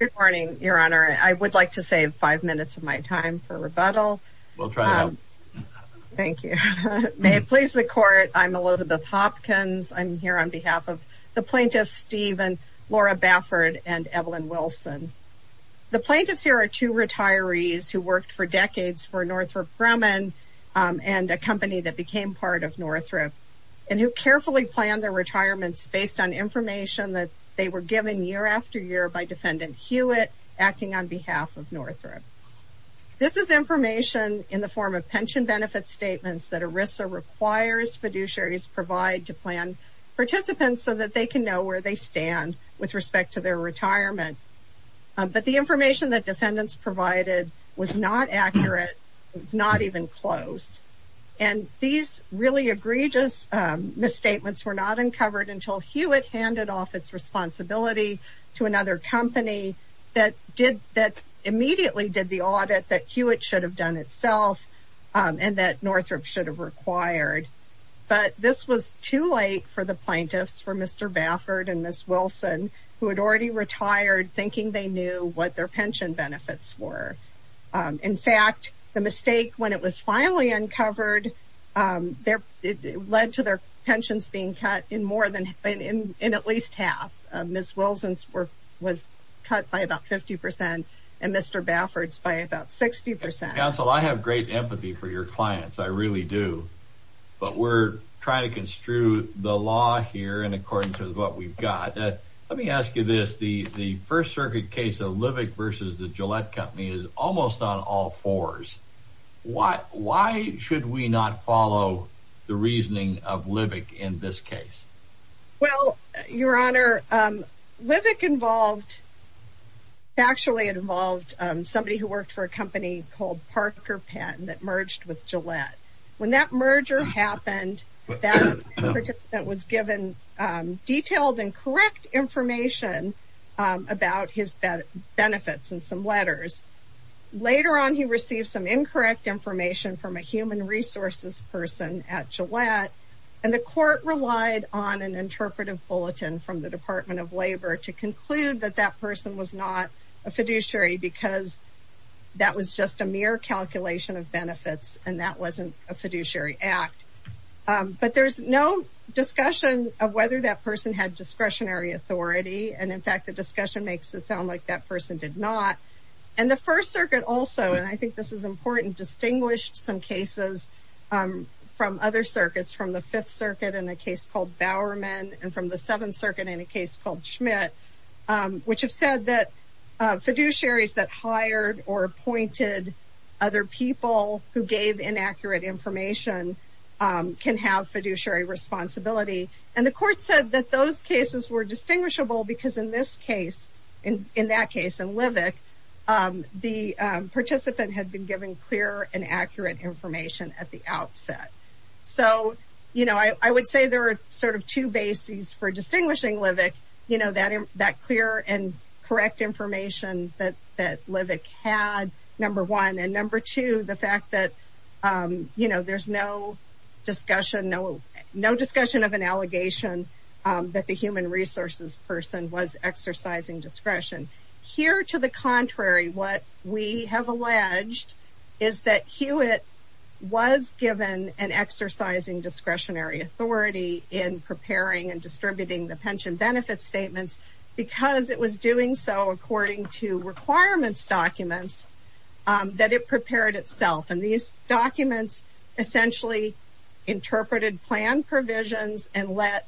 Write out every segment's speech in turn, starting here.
Good morning, your honor. I would like to save five minutes of my time for rebuttal. Thank you. May it please the court, I'm Elizabeth Hopkins. I'm here on behalf of the plaintiffs Stephen, Laura Bafford, and Evelyn Wilson. The plaintiffs here are two retirees who worked for decades for Northrop Grumman and a company that became part of Northrop and who carefully planned their retirements based on information that they were given year after year by defendant Hewitt acting on behalf of Northrop. This is information in the form of pension benefit statements that ERISA requires fiduciaries provide to plan participants so that they can know where they stand with respect to their retirement. But the information that defendants provided was not uncovered until Hewitt handed off its responsibility to another company that did that immediately did the audit that Hewitt should have done itself and that Northrop should have required. But this was too late for the plaintiffs for Mr. Bafford and Ms. Wilson who had already retired thinking they knew what their pension benefits were. In fact, the mistake when it was finally uncovered, it led to their pensions being cut in more than in at least half. Ms. Wilson's work was cut by about 50 percent and Mr. Bafford's by about 60 percent. Counsel, I have great empathy for your clients. I really do. But we're trying to construe the law here and according to what we've got. Let me ask you this. The First Circuit case of Livick versus the Gillette Company is almost on all fours. Why should we not follow the reasoning of Livick in this case? Well, your honor, Livick involved actually involved somebody who worked for a company called Parker Pen that merged with Gillette. When that merger happened, that participant was given detailed and correct information about his benefits and some letters. Later on, he received some incorrect information from a human resources person at Gillette and the court relied on an interpretive bulletin from the Department of Labor to conclude that that person was not a fiduciary because that was just a mere calculation of benefits and that wasn't a fiduciary act. But there's no discussion of whether that person had discretionary authority and in fact, the discussion makes it sound like that person did not. And the First Circuit also, and I think this is important, distinguished some cases from other circuits, from the Fifth Circuit in a case called Bowerman and from the Seventh Circuit in a case called Schmidt, which have said that hired or appointed other people who gave inaccurate information can have fiduciary responsibility. And the court said that those cases were distinguishable because in this case, in that case, in Livick, the participant had been given clear and accurate information at the outset. So, you know, I would say there are sort of two bases for distinguishing Livick, you know, that clear and correct information that Livick had, number one, and number two, the fact that, you know, there's no discussion, no discussion of an allegation that the human resources person was exercising discretion. Here, to the contrary, what we have alleged is that Hewitt was given an exercising discretionary authority in preparing and statements because it was doing so according to requirements documents that it prepared itself. And these documents essentially interpreted plan provisions and let,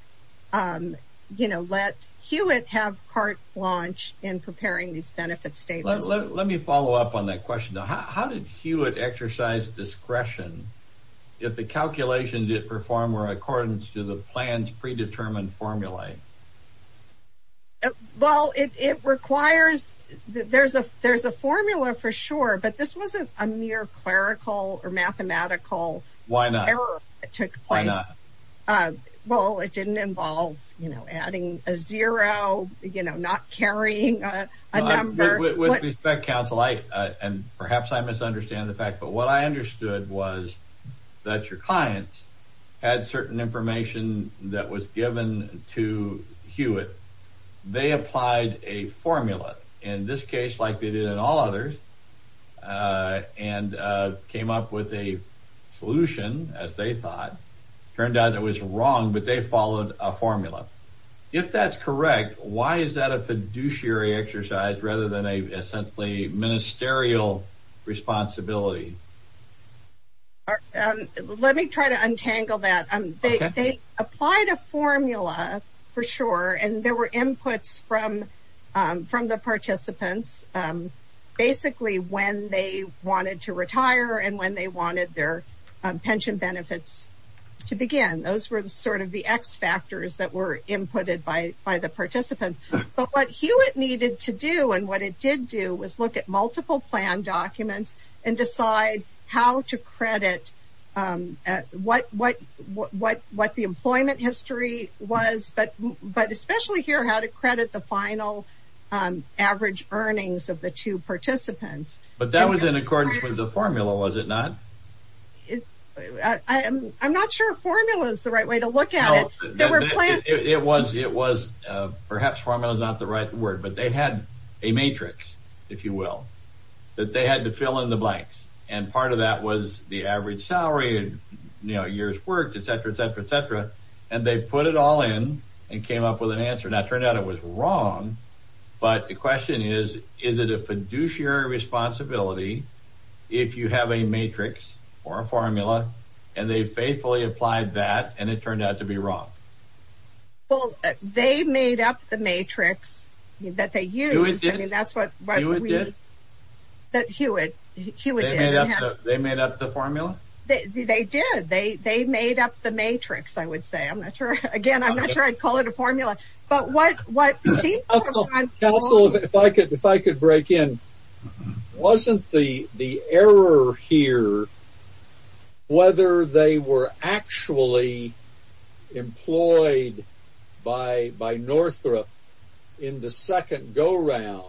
you know, let Hewitt have part launch in preparing these benefits statements. Let me follow up on that question. How did Hewitt exercise discretion if the calculations it performed were according to the plan's formula? Well, it requires, there's a formula for sure, but this wasn't a mere clerical or mathematical error. Why not? Well, it didn't involve, you know, adding a zero, you know, not carrying a number. With respect, counsel, and perhaps I misunderstand the fact, but what I understood was that your clients had certain information that was given to Hewitt. They applied a formula, in this case, like they did in all others, and came up with a solution, as they thought. Turned out it was wrong, but they followed a formula. If that's correct, why is that a fiduciary exercise rather than a essentially ministerial responsibility? Let me try to untangle that. They applied a formula for sure, and there were inputs from the participants, basically when they wanted to retire and when they wanted their pension benefits to begin. Those were sort of the X factors that were inputted by the participants, but what Hewitt needed to do, and what it did do, was look at multiple plan documents and decide how to credit what the employment history was, but especially here, how to credit the final average earnings of the two participants. But that was in accordance with the formula, was it not? I'm not sure formula is the right way to look at it. It was. Perhaps formula is not the right word, but they had a matrix, if you will, that they had to fill in the blanks, and part of that was the average salary, years worked, etc., etc., etc., and they put it all in and came up with an answer. Now, it turned out it was wrong, but the question is, is it a fiduciary responsibility if you have a matrix or a formula, and they faithfully applied that, and it turned out to be wrong? Well, they made up the matrix that they used. I mean, that's what Hewitt did. They made up the formula? They did. They made up the matrix, I would say. I'm not sure. Again, I'm not sure I'd call it a formula, but what you see... Counsel, if I could break in, wasn't the error here whether they were actually employed by Northrop in the second go-round,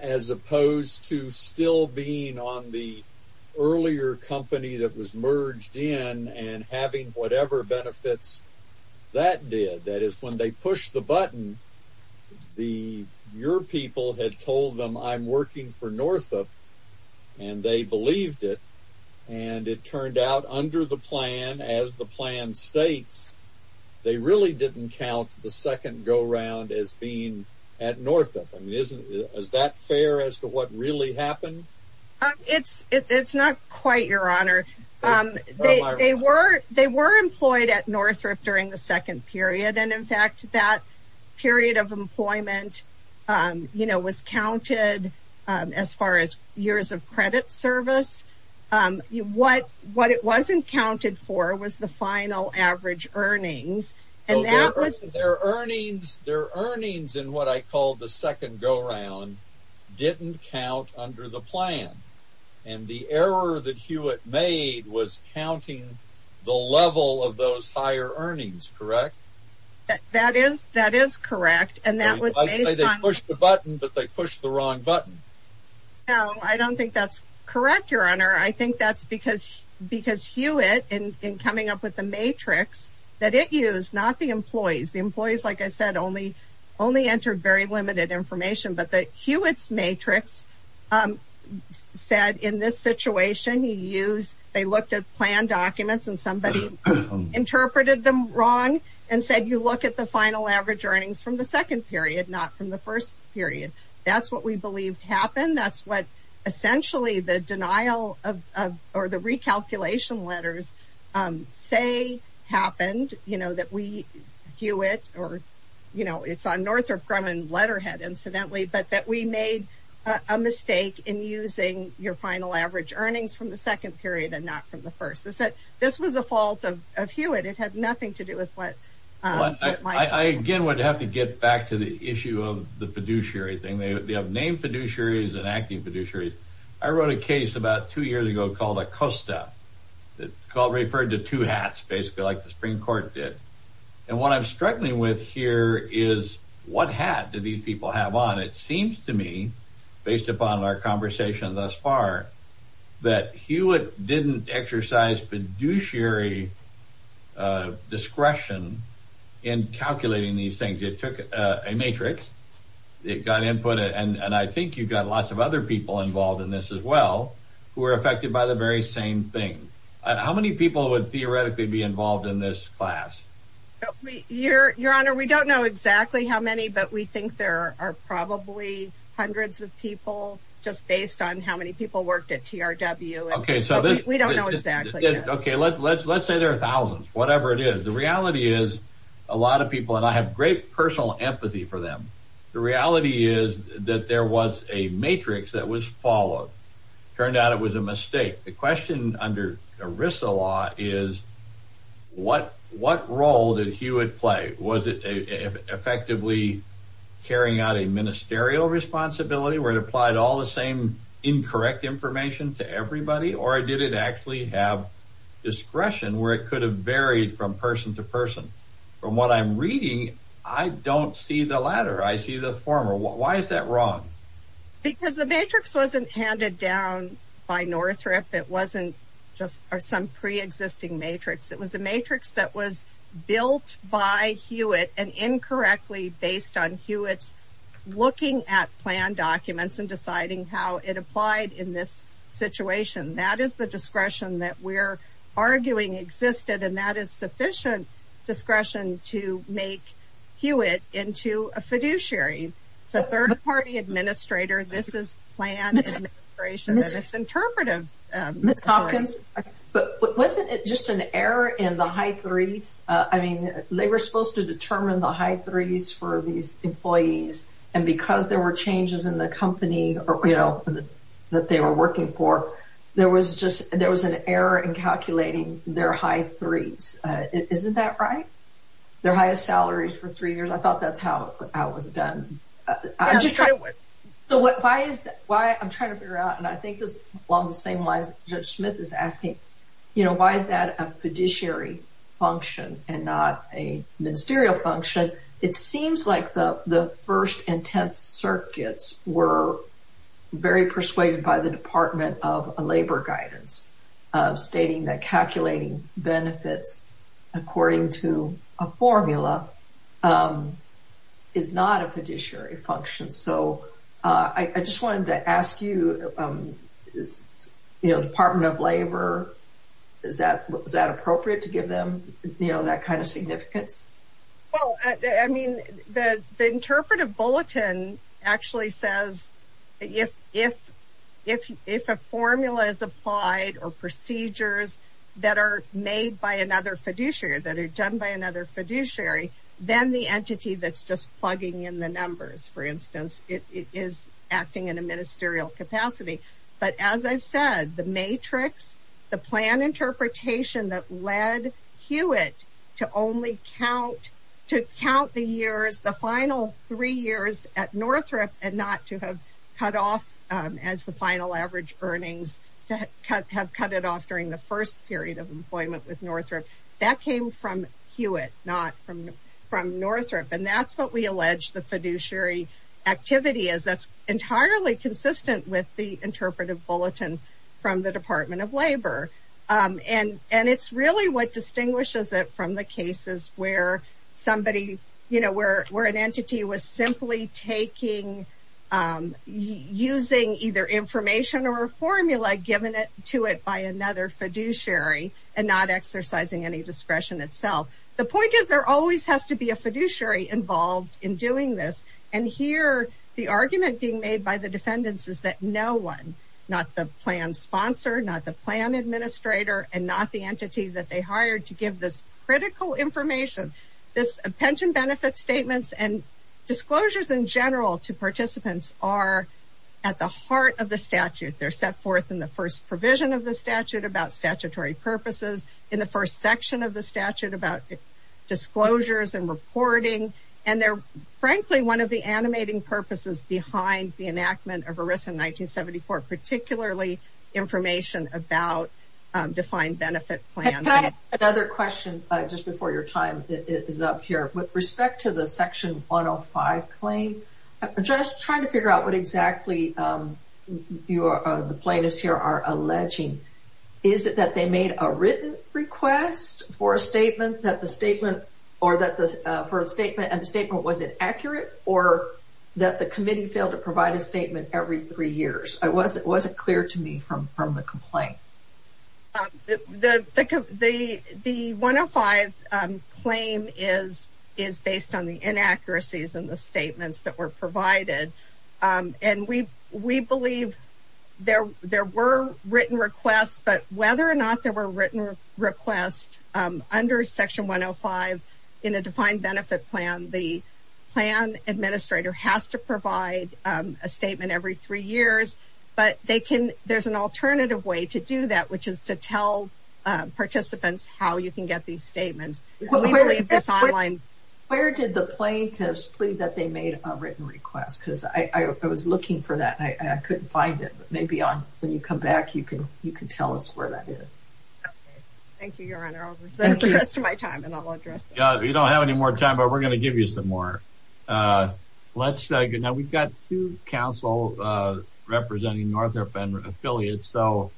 as opposed to still being on the earlier company that was doing it? That is, when they pushed the button, your people had told them, I'm working for Northrop, and they believed it, and it turned out under the plan, as the plan states, they really didn't count the second go-round as being at Northrop. I mean, is that fair as to what really happened? It's not quite, Your Honor. They were employed at Northrop during the second period, and in fact, that period of employment was counted as far as years of credit service. What it wasn't counted for was the final average earnings, and that was... Their earnings in what I call the second go-round didn't count under the plan, and the error that Hewitt made was counting the level of those higher earnings, correct? That is correct, and that was based on... They pushed the button, but they pushed the wrong button. No, I don't think that's correct, Your Honor. I think that's because Hewitt, in coming up with the matrix that it used, not the employees. The employees, like I said, only entered very said, in this situation, he used... They looked at plan documents, and somebody interpreted them wrong and said, you look at the final average earnings from the second period, not from the first period. That's what we believed happened. That's what, essentially, the denial or the recalculation letters say happened, that we, Hewitt, or it's on Northrop Grumman letterhead, incidentally, but that we made a mistake in using your final average earnings from the second period and not from the first. This was a fault of Hewitt. It had nothing to do with what... I, again, would have to get back to the issue of the fiduciary thing. They have named fiduciaries and acting fiduciaries. I wrote a case about two years ago called ACOSTA that referred to two hats, basically, like the Supreme Court did, and what I'm struggling with here is, what hat do these people have on? It seems to me, based upon our conversation thus far, that Hewitt didn't exercise fiduciary discretion in calculating these things. It took a matrix, it got input, and I think you've got lots of other people involved in this as well, who are affected by the very same thing. How many people would theoretically be involved in this class? Your Honor, we don't know exactly how many, but we think there are probably hundreds of people, just based on how many people worked at TRW. Okay, so this... We don't know exactly. Okay, let's say there are thousands, whatever it is. The reality is, a lot of people, and I have great personal empathy for them, the reality is that there was a matrix that was followed. Turned out it was a mistake. The question under ERISA law is, what role did Hewitt play? Was it effectively carrying out a ministerial responsibility, where it applied all the same incorrect information to everybody, or did it actually have discretion, where it could have varied from person to person? From what I'm reading, I don't see the latter. I see the former. Why is that wrong? Because the matrix wasn't handed down by Northrop. It wasn't just some pre-existing matrix. It was a matrix that was built by Hewitt and incorrectly based on Hewitt's looking at plan documents and deciding how it applied in this situation. That is the discretion that we're arguing existed, and that is sufficient discretion to make Hewitt into a fiduciary. It's a third-party administrator. This is plan administration, and it's interpretive. Ms. Hopkins, wasn't it just an error in the high threes? They were supposed to determine the high threes for these employees, and because there were changes in the company that they were working for, there was an error in calculating their high threes. Isn't that right? Their highest salaries for three years. I thought that's how it was done. So, why I'm trying to figure out, and I think this is along the same lines Judge Smith is asking, why is that a fiduciary function and not a ministerial function? It seems like the first intense circuits were very persuaded by the Department of Labor guidance of stating that a formula is not a fiduciary function. So, I just wanted to ask you, Department of Labor, is that appropriate to give them that kind of significance? Well, I mean, the interpretive bulletin actually says if a formula is applied or procedures that are made by another fiduciary, that are done by another fiduciary, then the entity that's just plugging in the numbers, for instance, is acting in a ministerial capacity. But as I've said, the matrix, the plan interpretation that led Hewitt to only count the years, the final three years at Northrop and not to have cut off as the final average earnings, to have cut it off during the first period of employment with Northrop, that came from Hewitt, not from Northrop. And that's what we allege the fiduciary activity is. That's entirely consistent with the interpretive bulletin from the Department of Labor. And it's really what distinguishes it from the cases where somebody, you know, where an entity was simply taking, using either information or a formula given to it by another fiduciary and not exercising any discretion itself. The point is, there always has to be a fiduciary involved in doing this. And here, the argument being made by the defendants is that no one, not the plan sponsor, not the plan administrator, and not the entity that they hired to give this critical information. This pension benefit statements and disclosures in general to participants are at the heart of the statute. They're set forth in the first provision of the statute about statutory purposes, in the first section of the statute about disclosures and reporting. And they're, frankly, one of the animating purposes behind the enactment of ERISA in 1974, particularly information about defined benefit plans. Another question, just before your time is up here. With respect to the section 105 claim, just trying to figure out what exactly the plaintiffs here are alleging. Is it that they made a written request for a statement that the statement or that the first statement and the every three years? Was it clear to me from the complaint? The 105 claim is based on the inaccuracies in the statements that were provided. And we believe there were written requests, but whether or not there were written requests under section 105 in a defined benefit plan, the plan administrator has to provide a statement every three years. But they can, there's an alternative way to do that, which is to tell participants how you can get these statements. Where did the plaintiffs plead that they made a written request? Because I was looking for that, and I couldn't find it. Maybe when you come back, you can tell us where that is. Thank you, Your Honor. I'll present the rest of my time, and I'll address it. You don't have any more time, but we're going to give you some more. Now, we've got two counsel representing Northrop and affiliates. So,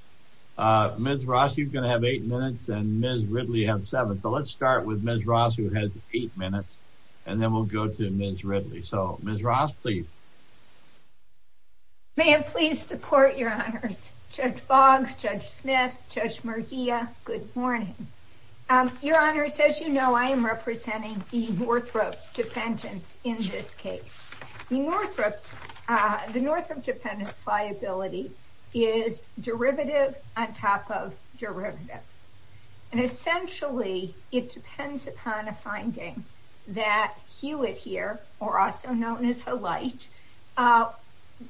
Ms. Ross, you're going to have eight minutes, and Ms. Ridley have seven. So, let's start with Ms. Ross, who has eight minutes, and then we'll go to Ms. Ridley. So, Ms. Ross, please. May I please support, Your Honors? Judge Boggs, Judge Smith, Judge Murguia, good morning. Your Honors, as you know, I am representing the Northrop dependents in this case. The Northrop dependents liability is derivative on top of derivative. And essentially, it depends upon a finding that Hewitt here, or also known as Halite,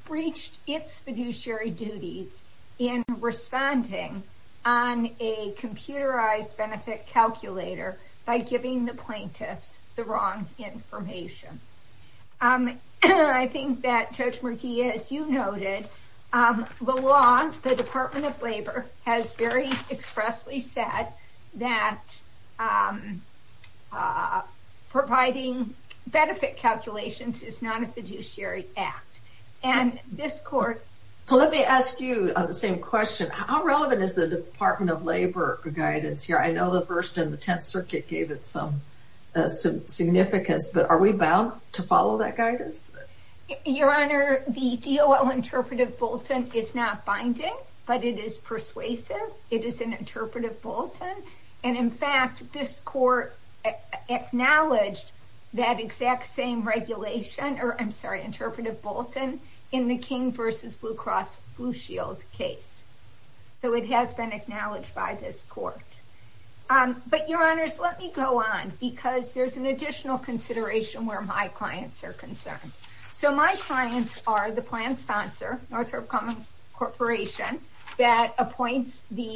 breached its fiduciary duties in responding on a computerized benefit calculator by giving the plaintiffs the wrong information. I think that Judge Murguia, as you noted, the law, the Department of Labor has very expressly said that providing benefit calculations is not a fiduciary act. And this court... So, let me ask you the same question. How relevant is the Department of Labor guidance here? I know the First and the Tenth Circuit gave it some significance, but are we bound to follow that guidance? Your Honor, the DOL interpretive bulletin is not binding, but it is persuasive. It is an interpretive bulletin. And in fact, this court acknowledged that exact same regulation, or I'm sorry, interpretive bulletin in the King versus Blue Cross Blue Shield case. So, it has been acknowledged by this court. But Your Honors, let me go on because there's an additional consideration where my clients are concerned. So, my clients are the plan sponsor, Northrop Grumman Corporation, that appoints the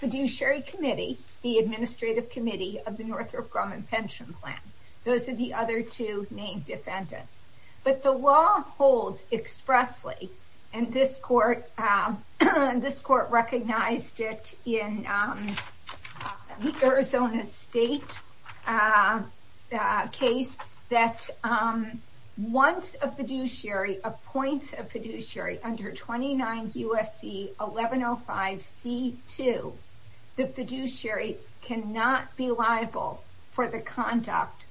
fiduciary committee, the administrative committee of the Northrop Grumman pension plan. Those are the other two named defendants. But the law holds expressly, and this court recognized it in the Arizona State case, that once a fiduciary appoints a fiduciary under 29 U.S.C. 1105C2, the fiduciary cannot be liable for the conduct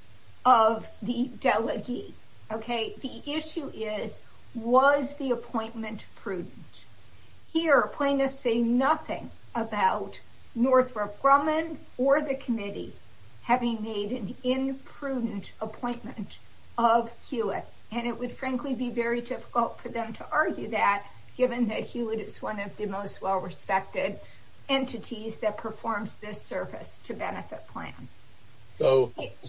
of the delegate. Okay? The issue is, was the appointment prudent? Here, plaintiffs say nothing about Northrop Grumman or the committee having made an imprudent appointment of Hewitt. And it would, frankly, be very difficult for them to argue that, given that Hewitt is one of the most well-respected entities that performs this service to benefit plans. It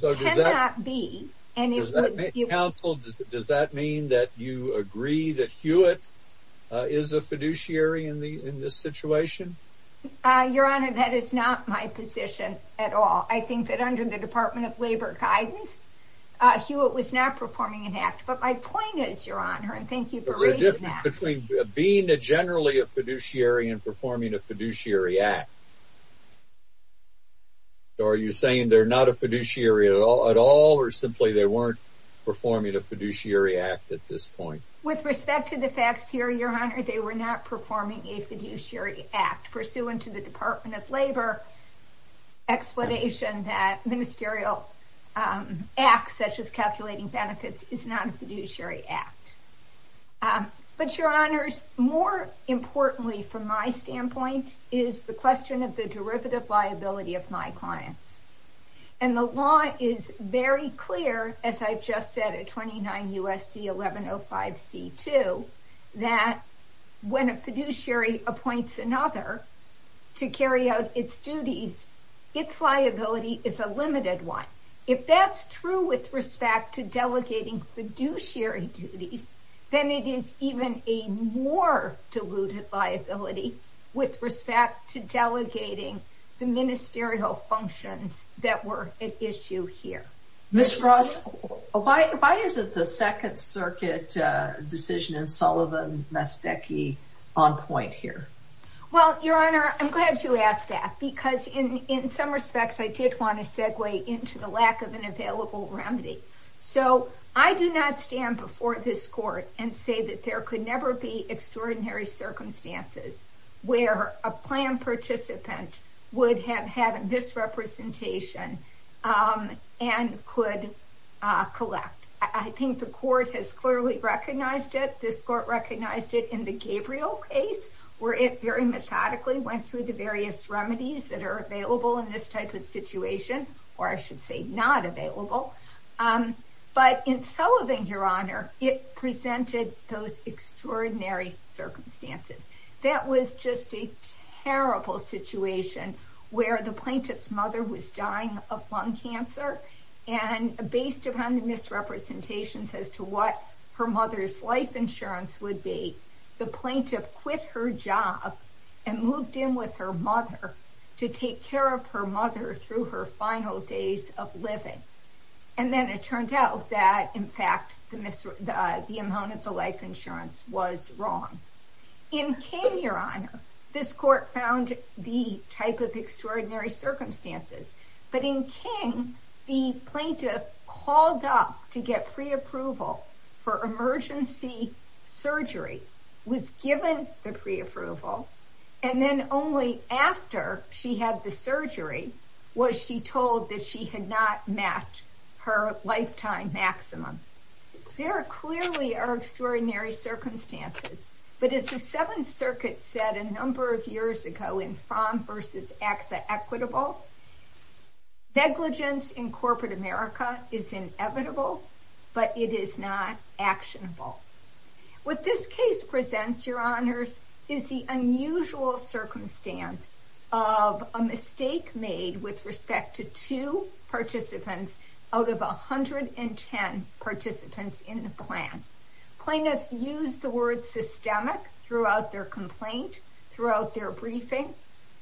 cannot be. So, counsel, does that mean that you agree that Hewitt is a fiduciary in this situation? Your Honor, that is not my position at all. I think that under the Department of Labor guidance, Hewitt was not performing an act. But my point is, Your Honor, and thank you for raising that. Between being generally a fiduciary and performing a fiduciary act, are you saying they're not a fiduciary at all, or simply they weren't performing a fiduciary act at this point? With respect to the facts here, Your Honor, they were not performing a fiduciary act, pursuant to the Department of Labor explanation that ministerial acts, such as calculating benefits, is not a fiduciary act. But, Your Honor, more importantly, from my standpoint, is the question of the derivative liability of my clients. And the law is very clear, as I've just said at 29 U.S.C. 1105 C.2, that when a fiduciary appoints another to carry out its duties, its liability is a limited one. If that's true with respect to delegating fiduciary duties, then it is even a more diluted liability with respect to delegating the ministerial functions that were at issue here. Ms. Ross, why is it the Second Circuit decision in Sullivan-Mastecchi on point here? Well, Your Honor, I'm glad you asked that, because in some respects, I did want to segue into the lack of an available remedy. So, I do not stand before this court and say that there could never be extraordinary circumstances where a plan participant would have had a misrepresentation and could collect. I think the court has clearly recognized it. This court recognized it in the Gabriel case, where it very methodically went through the various remedies that are available in this type of situation, or I should say not available. But in Sullivan, Your Honor, it presented those extraordinary circumstances. That was just a terrible situation where the plaintiff's mother was dying of lung cancer, and based upon the plaintiff's representations as to what her mother's life insurance would be, the plaintiff quit her job and moved in with her mother to take care of her mother through her final days of living. And then it turned out that, in fact, the amount of the life insurance was wrong. In King, Your Honor, this court found the type of extraordinary circumstances. But in King, the plaintiff's mother was asked to get pre-approval for emergency surgery, was given the pre-approval, and then only after she had the surgery was she told that she had not met her lifetime maximum. There clearly are extraordinary circumstances, but as the Seventh Circuit said a number of years ago in Fromm v. AXA equitable, negligence in corporate America is inevitable, but it is not actionable. What this case presents, Your Honors, is the unusual circumstance of a mistake made with respect to two participants out of 110 participants in the plan. Plaintiffs used the word systemic throughout their complaint, throughout their briefing,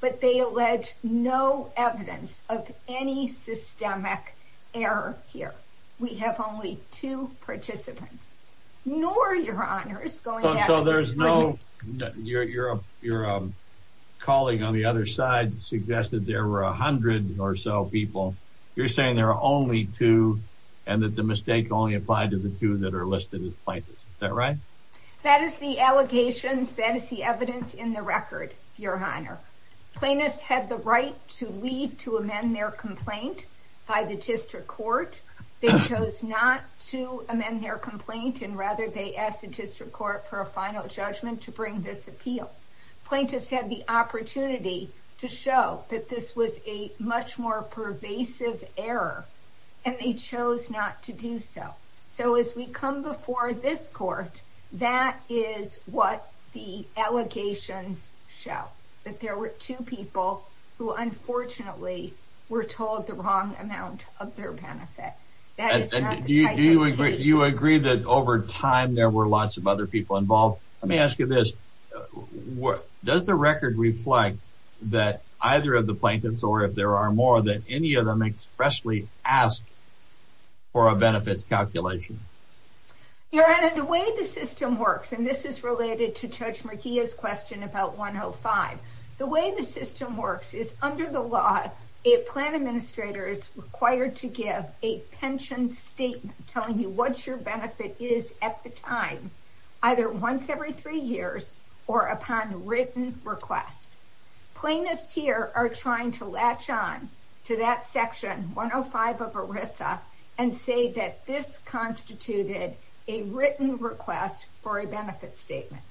but they allege no evidence of any systemic error here. We have only two participants. Nor, Your Honors, going back to the... So there's no... your calling on the other side suggested there were a hundred or so people. You're saying there are only two and that the mistake only applied to the two that are listed as plaintiffs. Is that right? That is the allegations. That is the evidence in the record, Your Honor. Plaintiffs had the right to leave to amend their complaint by the district court. They chose not to amend their complaint and rather they asked the district court for a final judgment to bring this appeal. Plaintiffs had the opportunity to show that this was a much more pervasive error and they chose not to do so. So as we come before this court, that is what the allegations show. That there were two people who unfortunately were told the wrong amount of their benefit. That is not the type of case. You agree that over time there were lots of other people involved. Let me ask you this. Does the record reflect that either of the plaintiffs, or if there are more, that any of them expressly asked for a benefits calculation? Your Honor, the way the system works, and this is related to Judge Murkia's question about 105, the way the system works is under the law a plan administrator is required to give a pension statement telling you what your benefit is at the time, either once every three years or upon written request. Plaintiffs here are trying to latch on to that section 105 of ERISA and say that this constituted a written request for a benefit statement.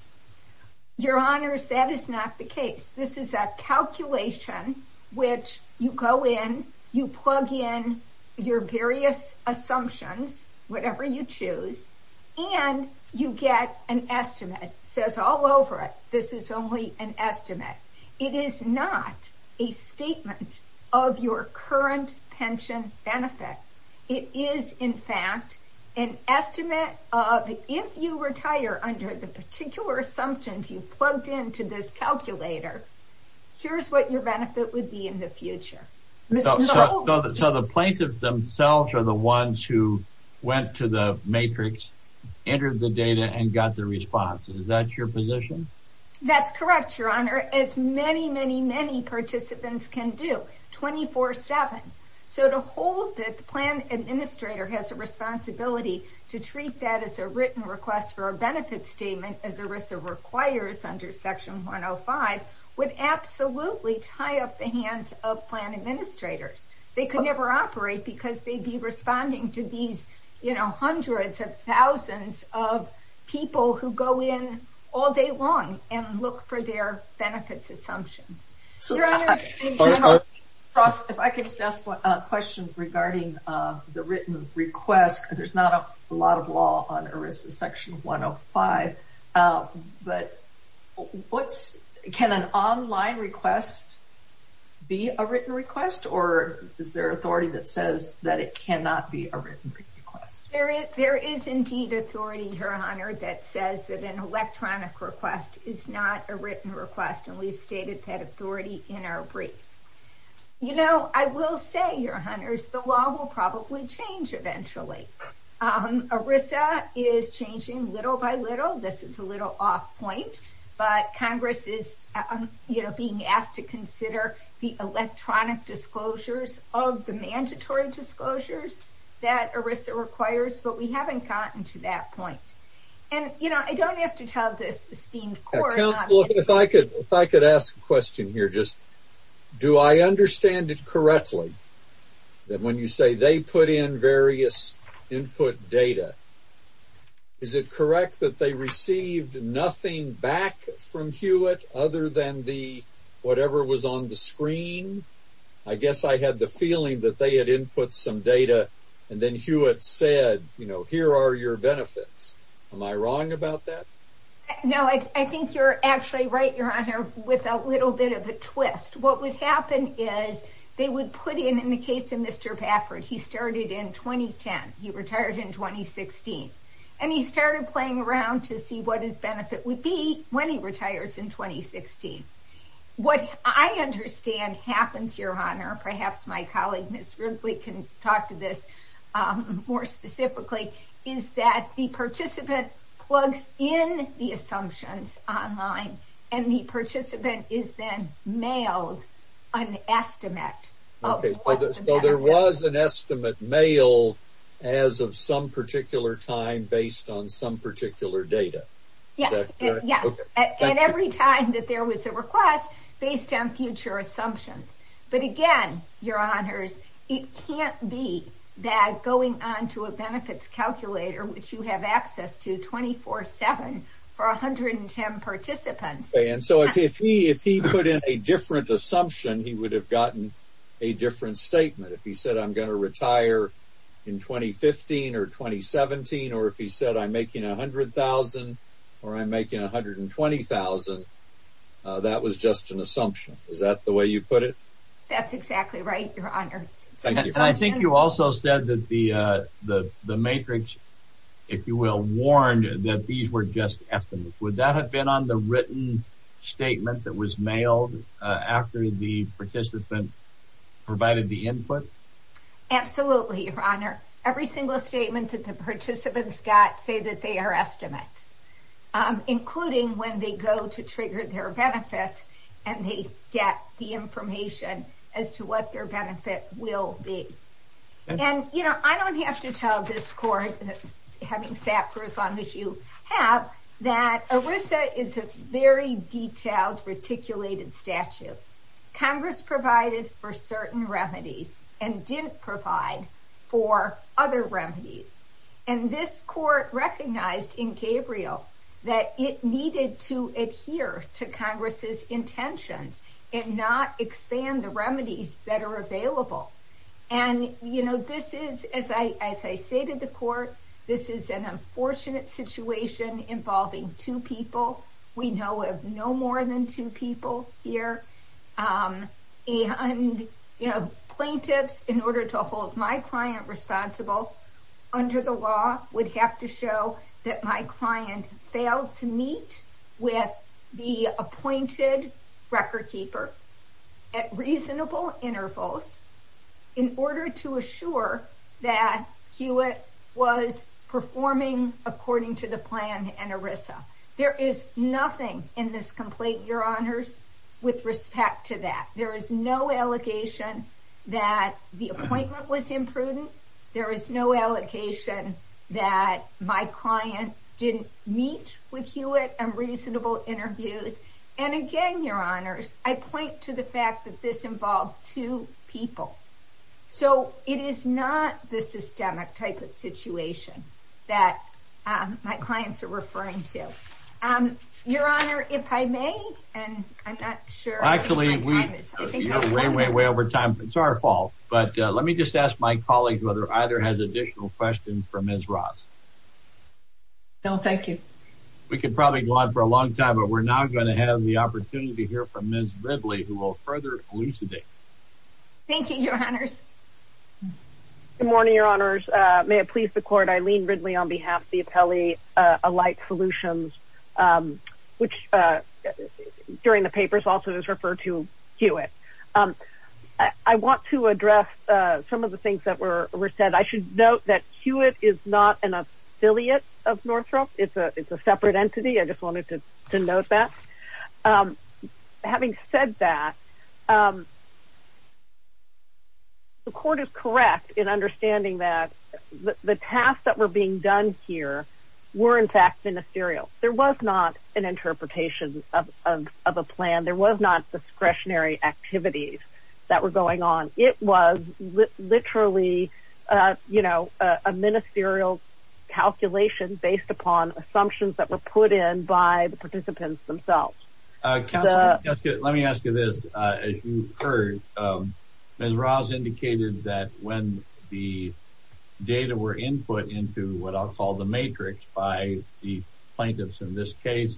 Your Honor, that is not the case. This is a calculation which you go in, you plug in your various assumptions, whatever you choose, and you get an estimate. It says all over it, this is only an estimate. It is not a statement of your current pension benefit. It is, in fact, an estimate of if you retire under the particular assumptions you've plugged into this calculator, here's what your benefit would be in the future. So the plaintiffs themselves are the ones who went to the matrix, entered the data, and got the response. Is that your position? That's correct, Your Honor, as many, many, many participants can do. 24-7. So to hold that the plan administrator has a responsibility to treat that as a written request for a benefit statement, as ERISA requires under section 105, would absolutely tie up the hands of plan administrators. They could never operate because they'd be responding to these, you know, hundreds of thousands of people who go in all day long and look for their benefits assumptions. Your Honor, if I could just ask a question regarding the written request. There's not a lot of law on ERISA section 105, but can an online request be a written request, or is there authority that says that it cannot be a written request? There is indeed authority, Your Honor, that says that an electronic request is not a written request, and we've stated that in our briefs. You know, I will say, Your Honors, the law will probably change eventually. ERISA is changing little by little. This is a little off point, but Congress is, you know, being asked to consider the electronic disclosures of the mandatory disclosures that ERISA requires, but we haven't gotten to that point. And, you know, I don't have to tell this court. If I could ask a question here, just do I understand it correctly that when you say they put in various input data, is it correct that they received nothing back from Hewitt other than the whatever was on the screen? I guess I had the feeling that they had input some data, and then Hewitt said, you know, here are your benefits. Am I wrong about that? No, I think you're actually right, Your Honor, with a little bit of a twist. What would happen is they would put in, in the case of Mr. Baffert, he started in 2010. He retired in 2016, and he started playing around to see what his benefit would be when he retires in 2016. What I understand happens, Your Honor, perhaps my colleague, Ms. Ripley, can talk to this more specifically, is that the participant plugs in the assumptions online, and the participant is then mailed an estimate. Okay, so there was an estimate mailed as of some particular time based on some particular data. Yes, and every time that there was a request based on future assumptions. But again, Your Honors, it can't be that going on to a benefits calculator, which you have access to 24-7 for 110 participants. And so if he put in a different assumption, he would have gotten a different statement. If he said, I'm going to retire in 2015 or 2017, or if he said, I'm making $100,000, or I'm making $120,000, that was just an assumption. Is that the way you put it? That's exactly right, Your Honors. I think you also said that the matrix, if you will, warned that these were just estimates. Would that have been on the written statement that was mailed after the participant provided the input? Absolutely, Your Honor. Every single statement that the participants got say that they are estimates, including when they go to trigger their benefits, and they get the information as to what their benefit will be. And I don't have to tell this Court, having sat for as long as you have, that ERISA is a very detailed, reticulated statute. Congress provided for certain remedies and didn't provide for other remedies. And this Congress's intentions and not expand the remedies that are available. And this is, as I say to the Court, this is an unfortunate situation involving two people. We know of no more than two people here. And plaintiffs, in order to hold my client responsible under the law, would have to show that my client failed to meet with the appointed record keeper at reasonable intervals in order to assure that Hewitt was performing according to the plan and ERISA. There is nothing in this complaint, Your Honors, with respect to that. There is no allegation that the appointment was imprudent. There is no allocation that my client didn't meet with Hewitt on reasonable interviews. And again, Your Honors, I point to the fact that this involved two people. So it is not the systemic type of situation that my clients are referring to. Your Honor, if I may, and I'm not sure. Actually, way, way, way over time. It's our fault. But let me just ask my colleague whether either has additional questions for Ms. Ross. No, thank you. We could probably go on for a long time, but we're now going to have the opportunity to hear from Ms. Ridley, who will further elucidate. Thank you, Your Honors. Good morning, Your Honors. May it please the Hewitt. I want to address some of the things that were said. I should note that Hewitt is not an affiliate of Northrop. It's a separate entity. I just wanted to note that. Having said that, the court is correct in understanding that the tasks that were being done here were, in fact, ministerial. There was not an interpretation of a plan. There was not discretionary activities that were going on. It was literally, you know, a ministerial calculation based upon assumptions that were put in by the participants themselves. Let me ask you this. As you heard, Ms. Ross indicated that when the data were input into what I'll call the matrix by the plaintiffs in this case,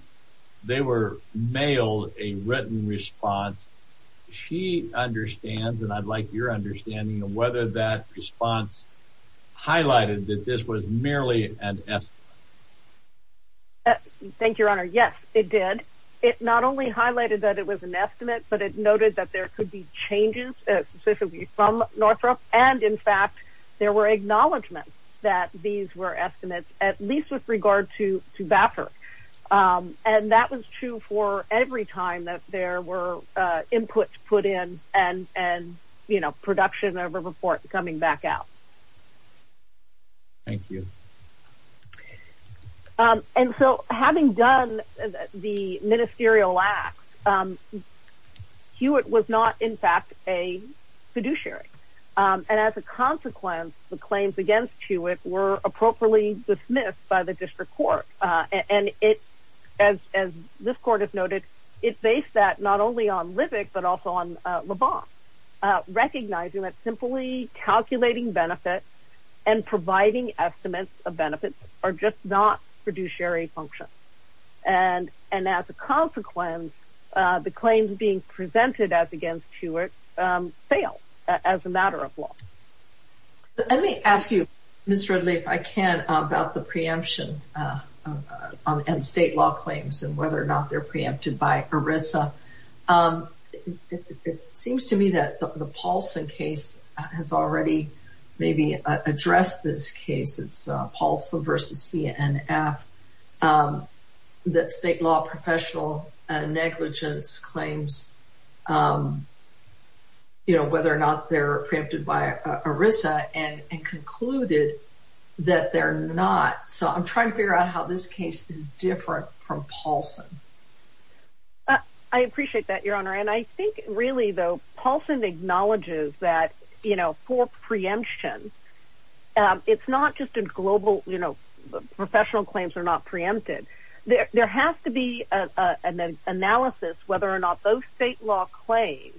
they were mailed a written response. She understands, and I'd like your understanding of whether that response highlighted that this was merely an estimate. Thank you, Your Honor. Yes, it did. It not only highlighted that it was an estimate, but it noted that there could be changes specifically from Northrop. In fact, there were acknowledgments that these were estimates, at least with regard to Baffert. That was true for every time that there were inputs put in and production of a report coming back out. Thank you. Having done the ministerial acts, Hewitt was not, in fact, a fiduciary. As a consequence, the claims against Hewitt were appropriately dismissed by the district court. As this court has noted, it based that not only on Livick, but also on Le Bon, recognizing that simply calculating benefits and providing estimates of benefits are just not fiduciary functions. As a consequence, the claims being presented as against Hewitt fail as a matter of law. Let me ask you, Ms. Ridley, if I can, about the preemption and state law claims and whether or not they're preempted by ERISA. It seems to me that the Paulson case has already maybe addressed this case. It's Paulson versus CNF. That state law professional negligence claims whether or not they're preempted by ERISA and concluded that they're not. I'm trying to figure out how this case is different from Paulson. I appreciate that, Your Honor. I think really, Paulson acknowledges that for preemption, it's not just a global professional claims are not preempted. There has to be an analysis whether or not those state law claims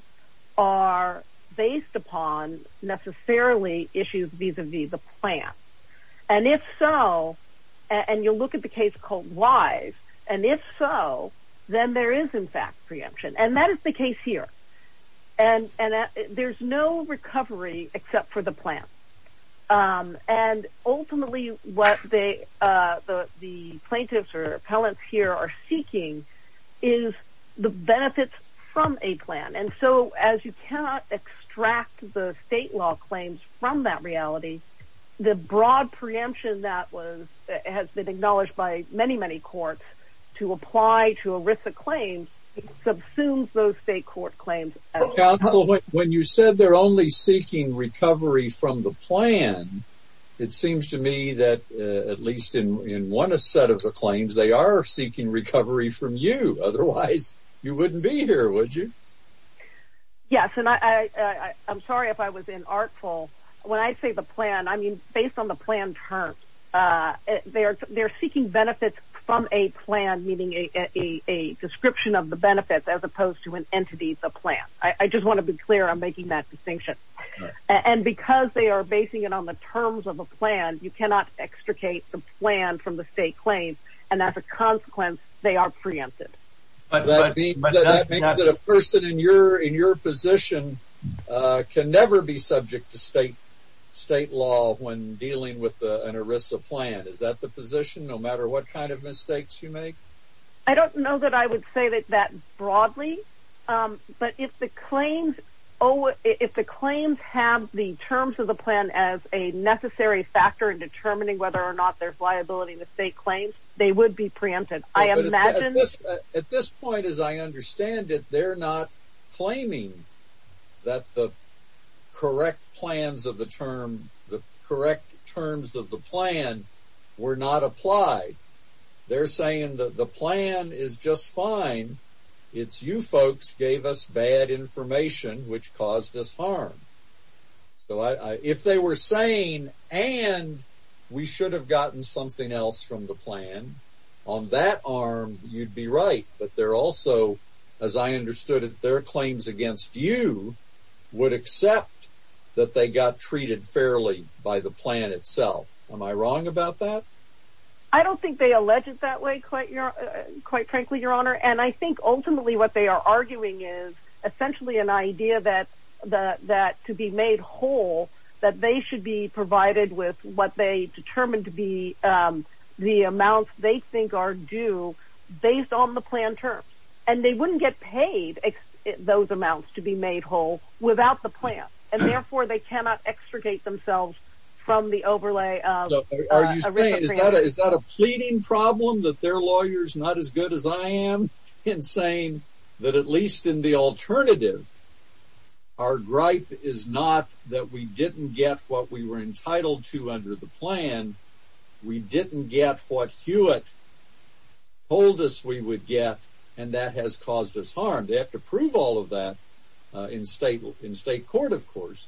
are based upon necessarily issues vis-a-vis the plan. If so, and you'll look at the case called Wise, and if so, then there is in fact preemption. That is the case here. There's no recovery except for the plan. Ultimately, what the plaintiffs or appellants here are seeking is the benefits from a plan. As you cannot extract the state law claims from that to apply to ERISA claims, it subsumes those state court claims. When you said they're only seeking recovery from the plan, it seems to me that at least in one set of the claims, they are seeking recovery from you. Otherwise, you wouldn't be here, would you? Yes. I'm sorry if I was inartful. When I say the plan, based on the plan terms, they're seeking benefits from a plan, meaning a description of the benefits as opposed to an entity, the plan. I just want to be clear I'm making that distinction. Because they are basing it on the terms of a plan, you cannot extricate the plan from the state claims. As a consequence, they are preempted. That means that a person in your position can never be subject to state law when dealing with an ERISA plan. Is that the position, no matter what kind of mistakes you make? I don't know that I would say that broadly. If the claims have the terms of the plan as a necessary factor in determining whether or not there's liability in the state claims, they would be preempted. At this point, as I understand it, they're not claiming that the correct plans of the term, the correct terms of the plan were not applied. They're saying that the plan is just fine. It's you folks gave us bad information which caused us harm. If they were saying, and we should have gotten something else from the plan, on that arm, you'd be right. But they're also, as I understood it, their claims against you would accept that they got treated fairly by the plan itself. Am I wrong about that? I don't think they allege it that way, quite frankly, your honor. I think ultimately what they are arguing is essentially an idea that to be made whole, that they should be provided with what they determined to be the amounts they think are due based on the plan terms. And they wouldn't get paid those amounts to be made whole without the plan. And therefore, they cannot extricate themselves from the overlay of a recipient. Is that a pleading problem that their lawyer is not as good as I am in saying that at least in the alternative, our gripe is not that we didn't get what we were entitled to under the plan. We didn't get what Hewitt told us we would get. And that has caused us harm. They have to prove all of that in state court, of course.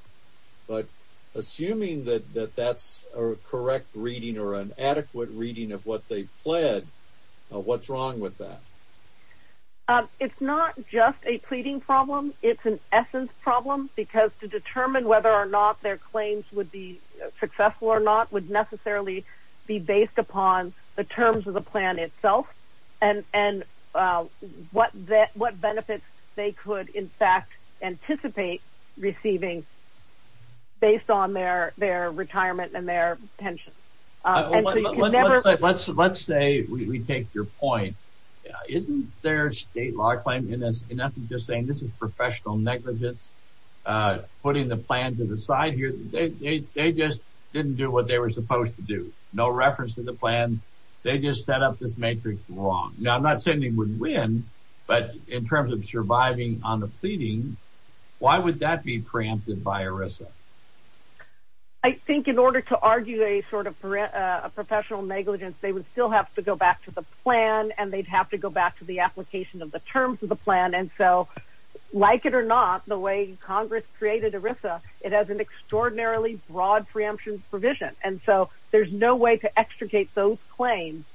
But assuming that that's a correct reading or an adequate reading of what they pled, what's wrong with that? It's not just a pleading problem. It's an essence problem, because to determine whether or not their claims would be successful or not would necessarily be based upon the terms of the plan itself and what benefits they could, in fact, anticipate receiving based on their retirement and their pensions. Let's say we take your point. Isn't their state law claim in essence just saying this is professional negligence, putting the plan to the side here? They just didn't do what they were supposed to do. No reference to the plan. They just set up this matrix wrong. Now, I'm not saying would win, but in terms of surviving on the pleading, why would that be preempted by ERISA? I think in order to argue a sort of professional negligence, they would still have to go back to the plan, and they'd have to go back to the application of the terms of the plan. And so, like it or not, the way Congress created ERISA, it has an extraordinarily broad preemption provision. And so, there's no way to extricate those claims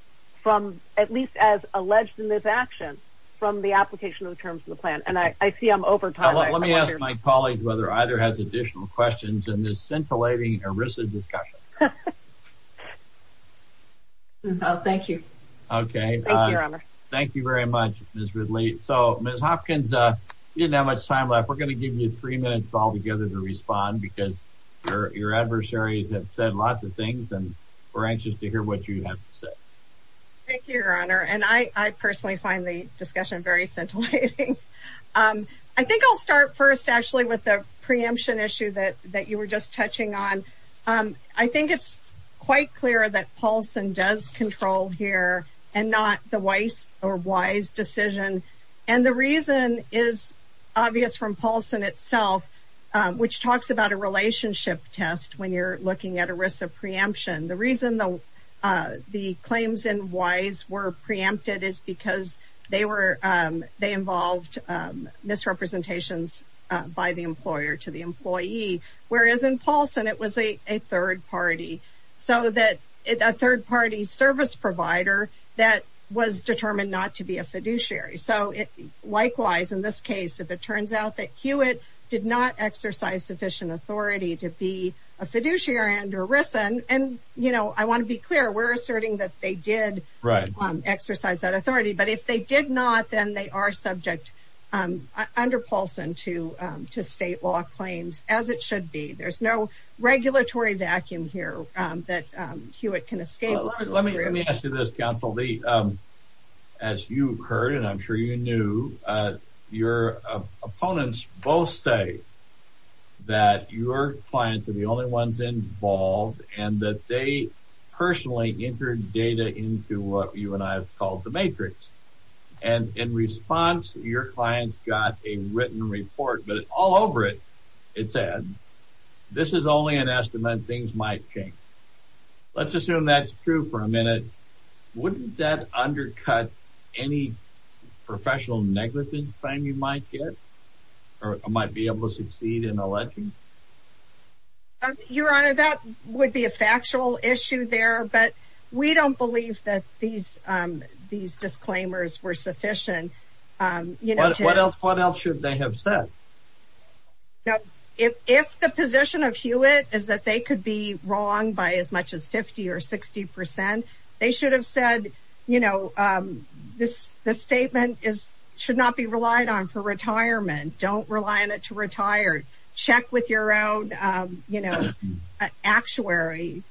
from, at least as alleged in this action, from the application of the terms of the plan. And I see I'm over time. Let me ask my colleague whether either has additional questions in this scintillating ERISA discussion. Thank you. Okay. Thank you very much, Ms. Ridley. So, Ms. Hopkins, we didn't have much time left. We're lots of things, and we're anxious to hear what you have to say. Thank you, Your Honor. And I personally find the discussion very scintillating. I think I'll start first, actually, with the preemption issue that you were just touching on. I think it's quite clear that Paulson does control here and not the Weiss or Wise decision. And the reason is obvious from Paulson itself, which talks about a relationship test when you're looking at ERISA preemption. The reason the claims in Weiss were preempted is because they involved misrepresentations by the employer to the employee, whereas in Paulson, it was a third party. So, a third party service provider that was determined not to be a fiduciary. So, likewise, in this case, if it turns out that Hewitt did not exercise sufficient authority to be a fiduciary under ERISA, and, you know, I want to be clear, we're asserting that they did exercise that authority, but if they did not, then they are subject under Paulson to state law claims, as it should be. There's no regulatory vacuum here that Hewitt can escape. Let me ask you this, counsel. As you've heard, and I'm sure you knew, your opponents both say that your clients are the only ones involved and that they personally entered data into what you and I have called the matrix. And in response, your clients got a written report, but all over it, it said, this is only an estimate. Things might change. Let's assume that's true for a minute. Wouldn't that undercut any professional negligence claim you might get or might be able to succeed in electing? Your Honor, that would be a factual issue there, but we don't believe that these disclaimers were sufficient. What else should they have said? If the position of Hewitt is that they could be wrong by as much as 50 or 60 percent, they should have said, you know, this statement should not be relied on for retirement. Don't rely on it to retire. Check with your own, you know, actuary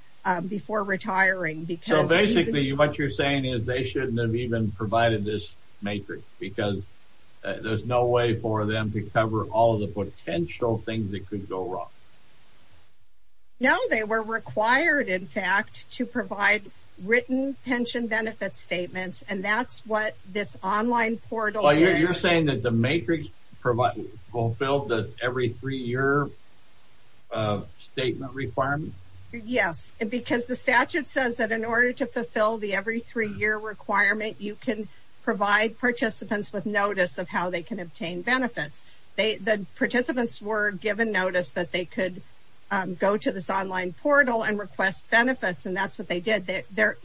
before retiring. So basically what you're saying is they shouldn't have even provided this matrix because there's no for them to cover all the potential things that could go wrong. No, they were required, in fact, to provide written pension benefit statements, and that's what this online portal is. You're saying that the matrix fulfilled the every three-year statement requirement? Yes, because the statute says that in order to fulfill the every three-year requirement, you can provide participants with benefits. The participants were given notice that they could go to this online portal and request benefits, and that's what they did. The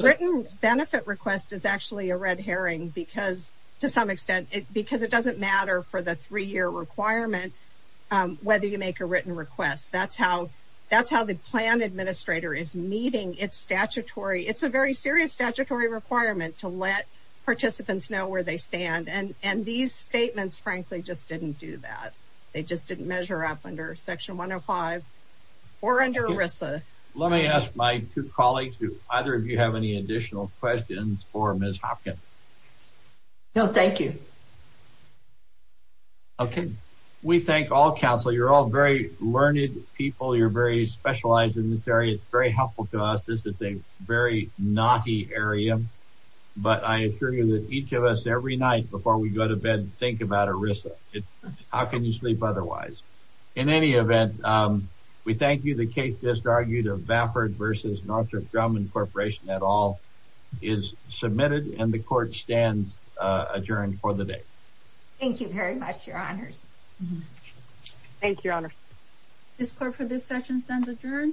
written benefit request is actually a red herring because it doesn't matter for the three-year requirement whether you make a written request. That's how the plan administrator is meeting its statutory. It's a very serious statutory requirement to let statements, frankly, just didn't do that. They just didn't measure up under section 105 or under ERISA. Let me ask my two colleagues, either of you have any additional questions for Ms. Hopkins? No, thank you. Okay, we thank all counsel. You're all very learned people. You're very specialized in this area. It's very helpful to us. This is a very knotty area, but I assure you that each of us, every night before we go to bed, think about ERISA. How can you sleep otherwise? In any event, we thank you. The case just argued of Vafford versus Northrop Grumman Corporation et al is submitted, and the court stands adjourned for the day. Thank you very much, your honors. Thank you, your honors. Ms. Clark, for this session, stands adjourned.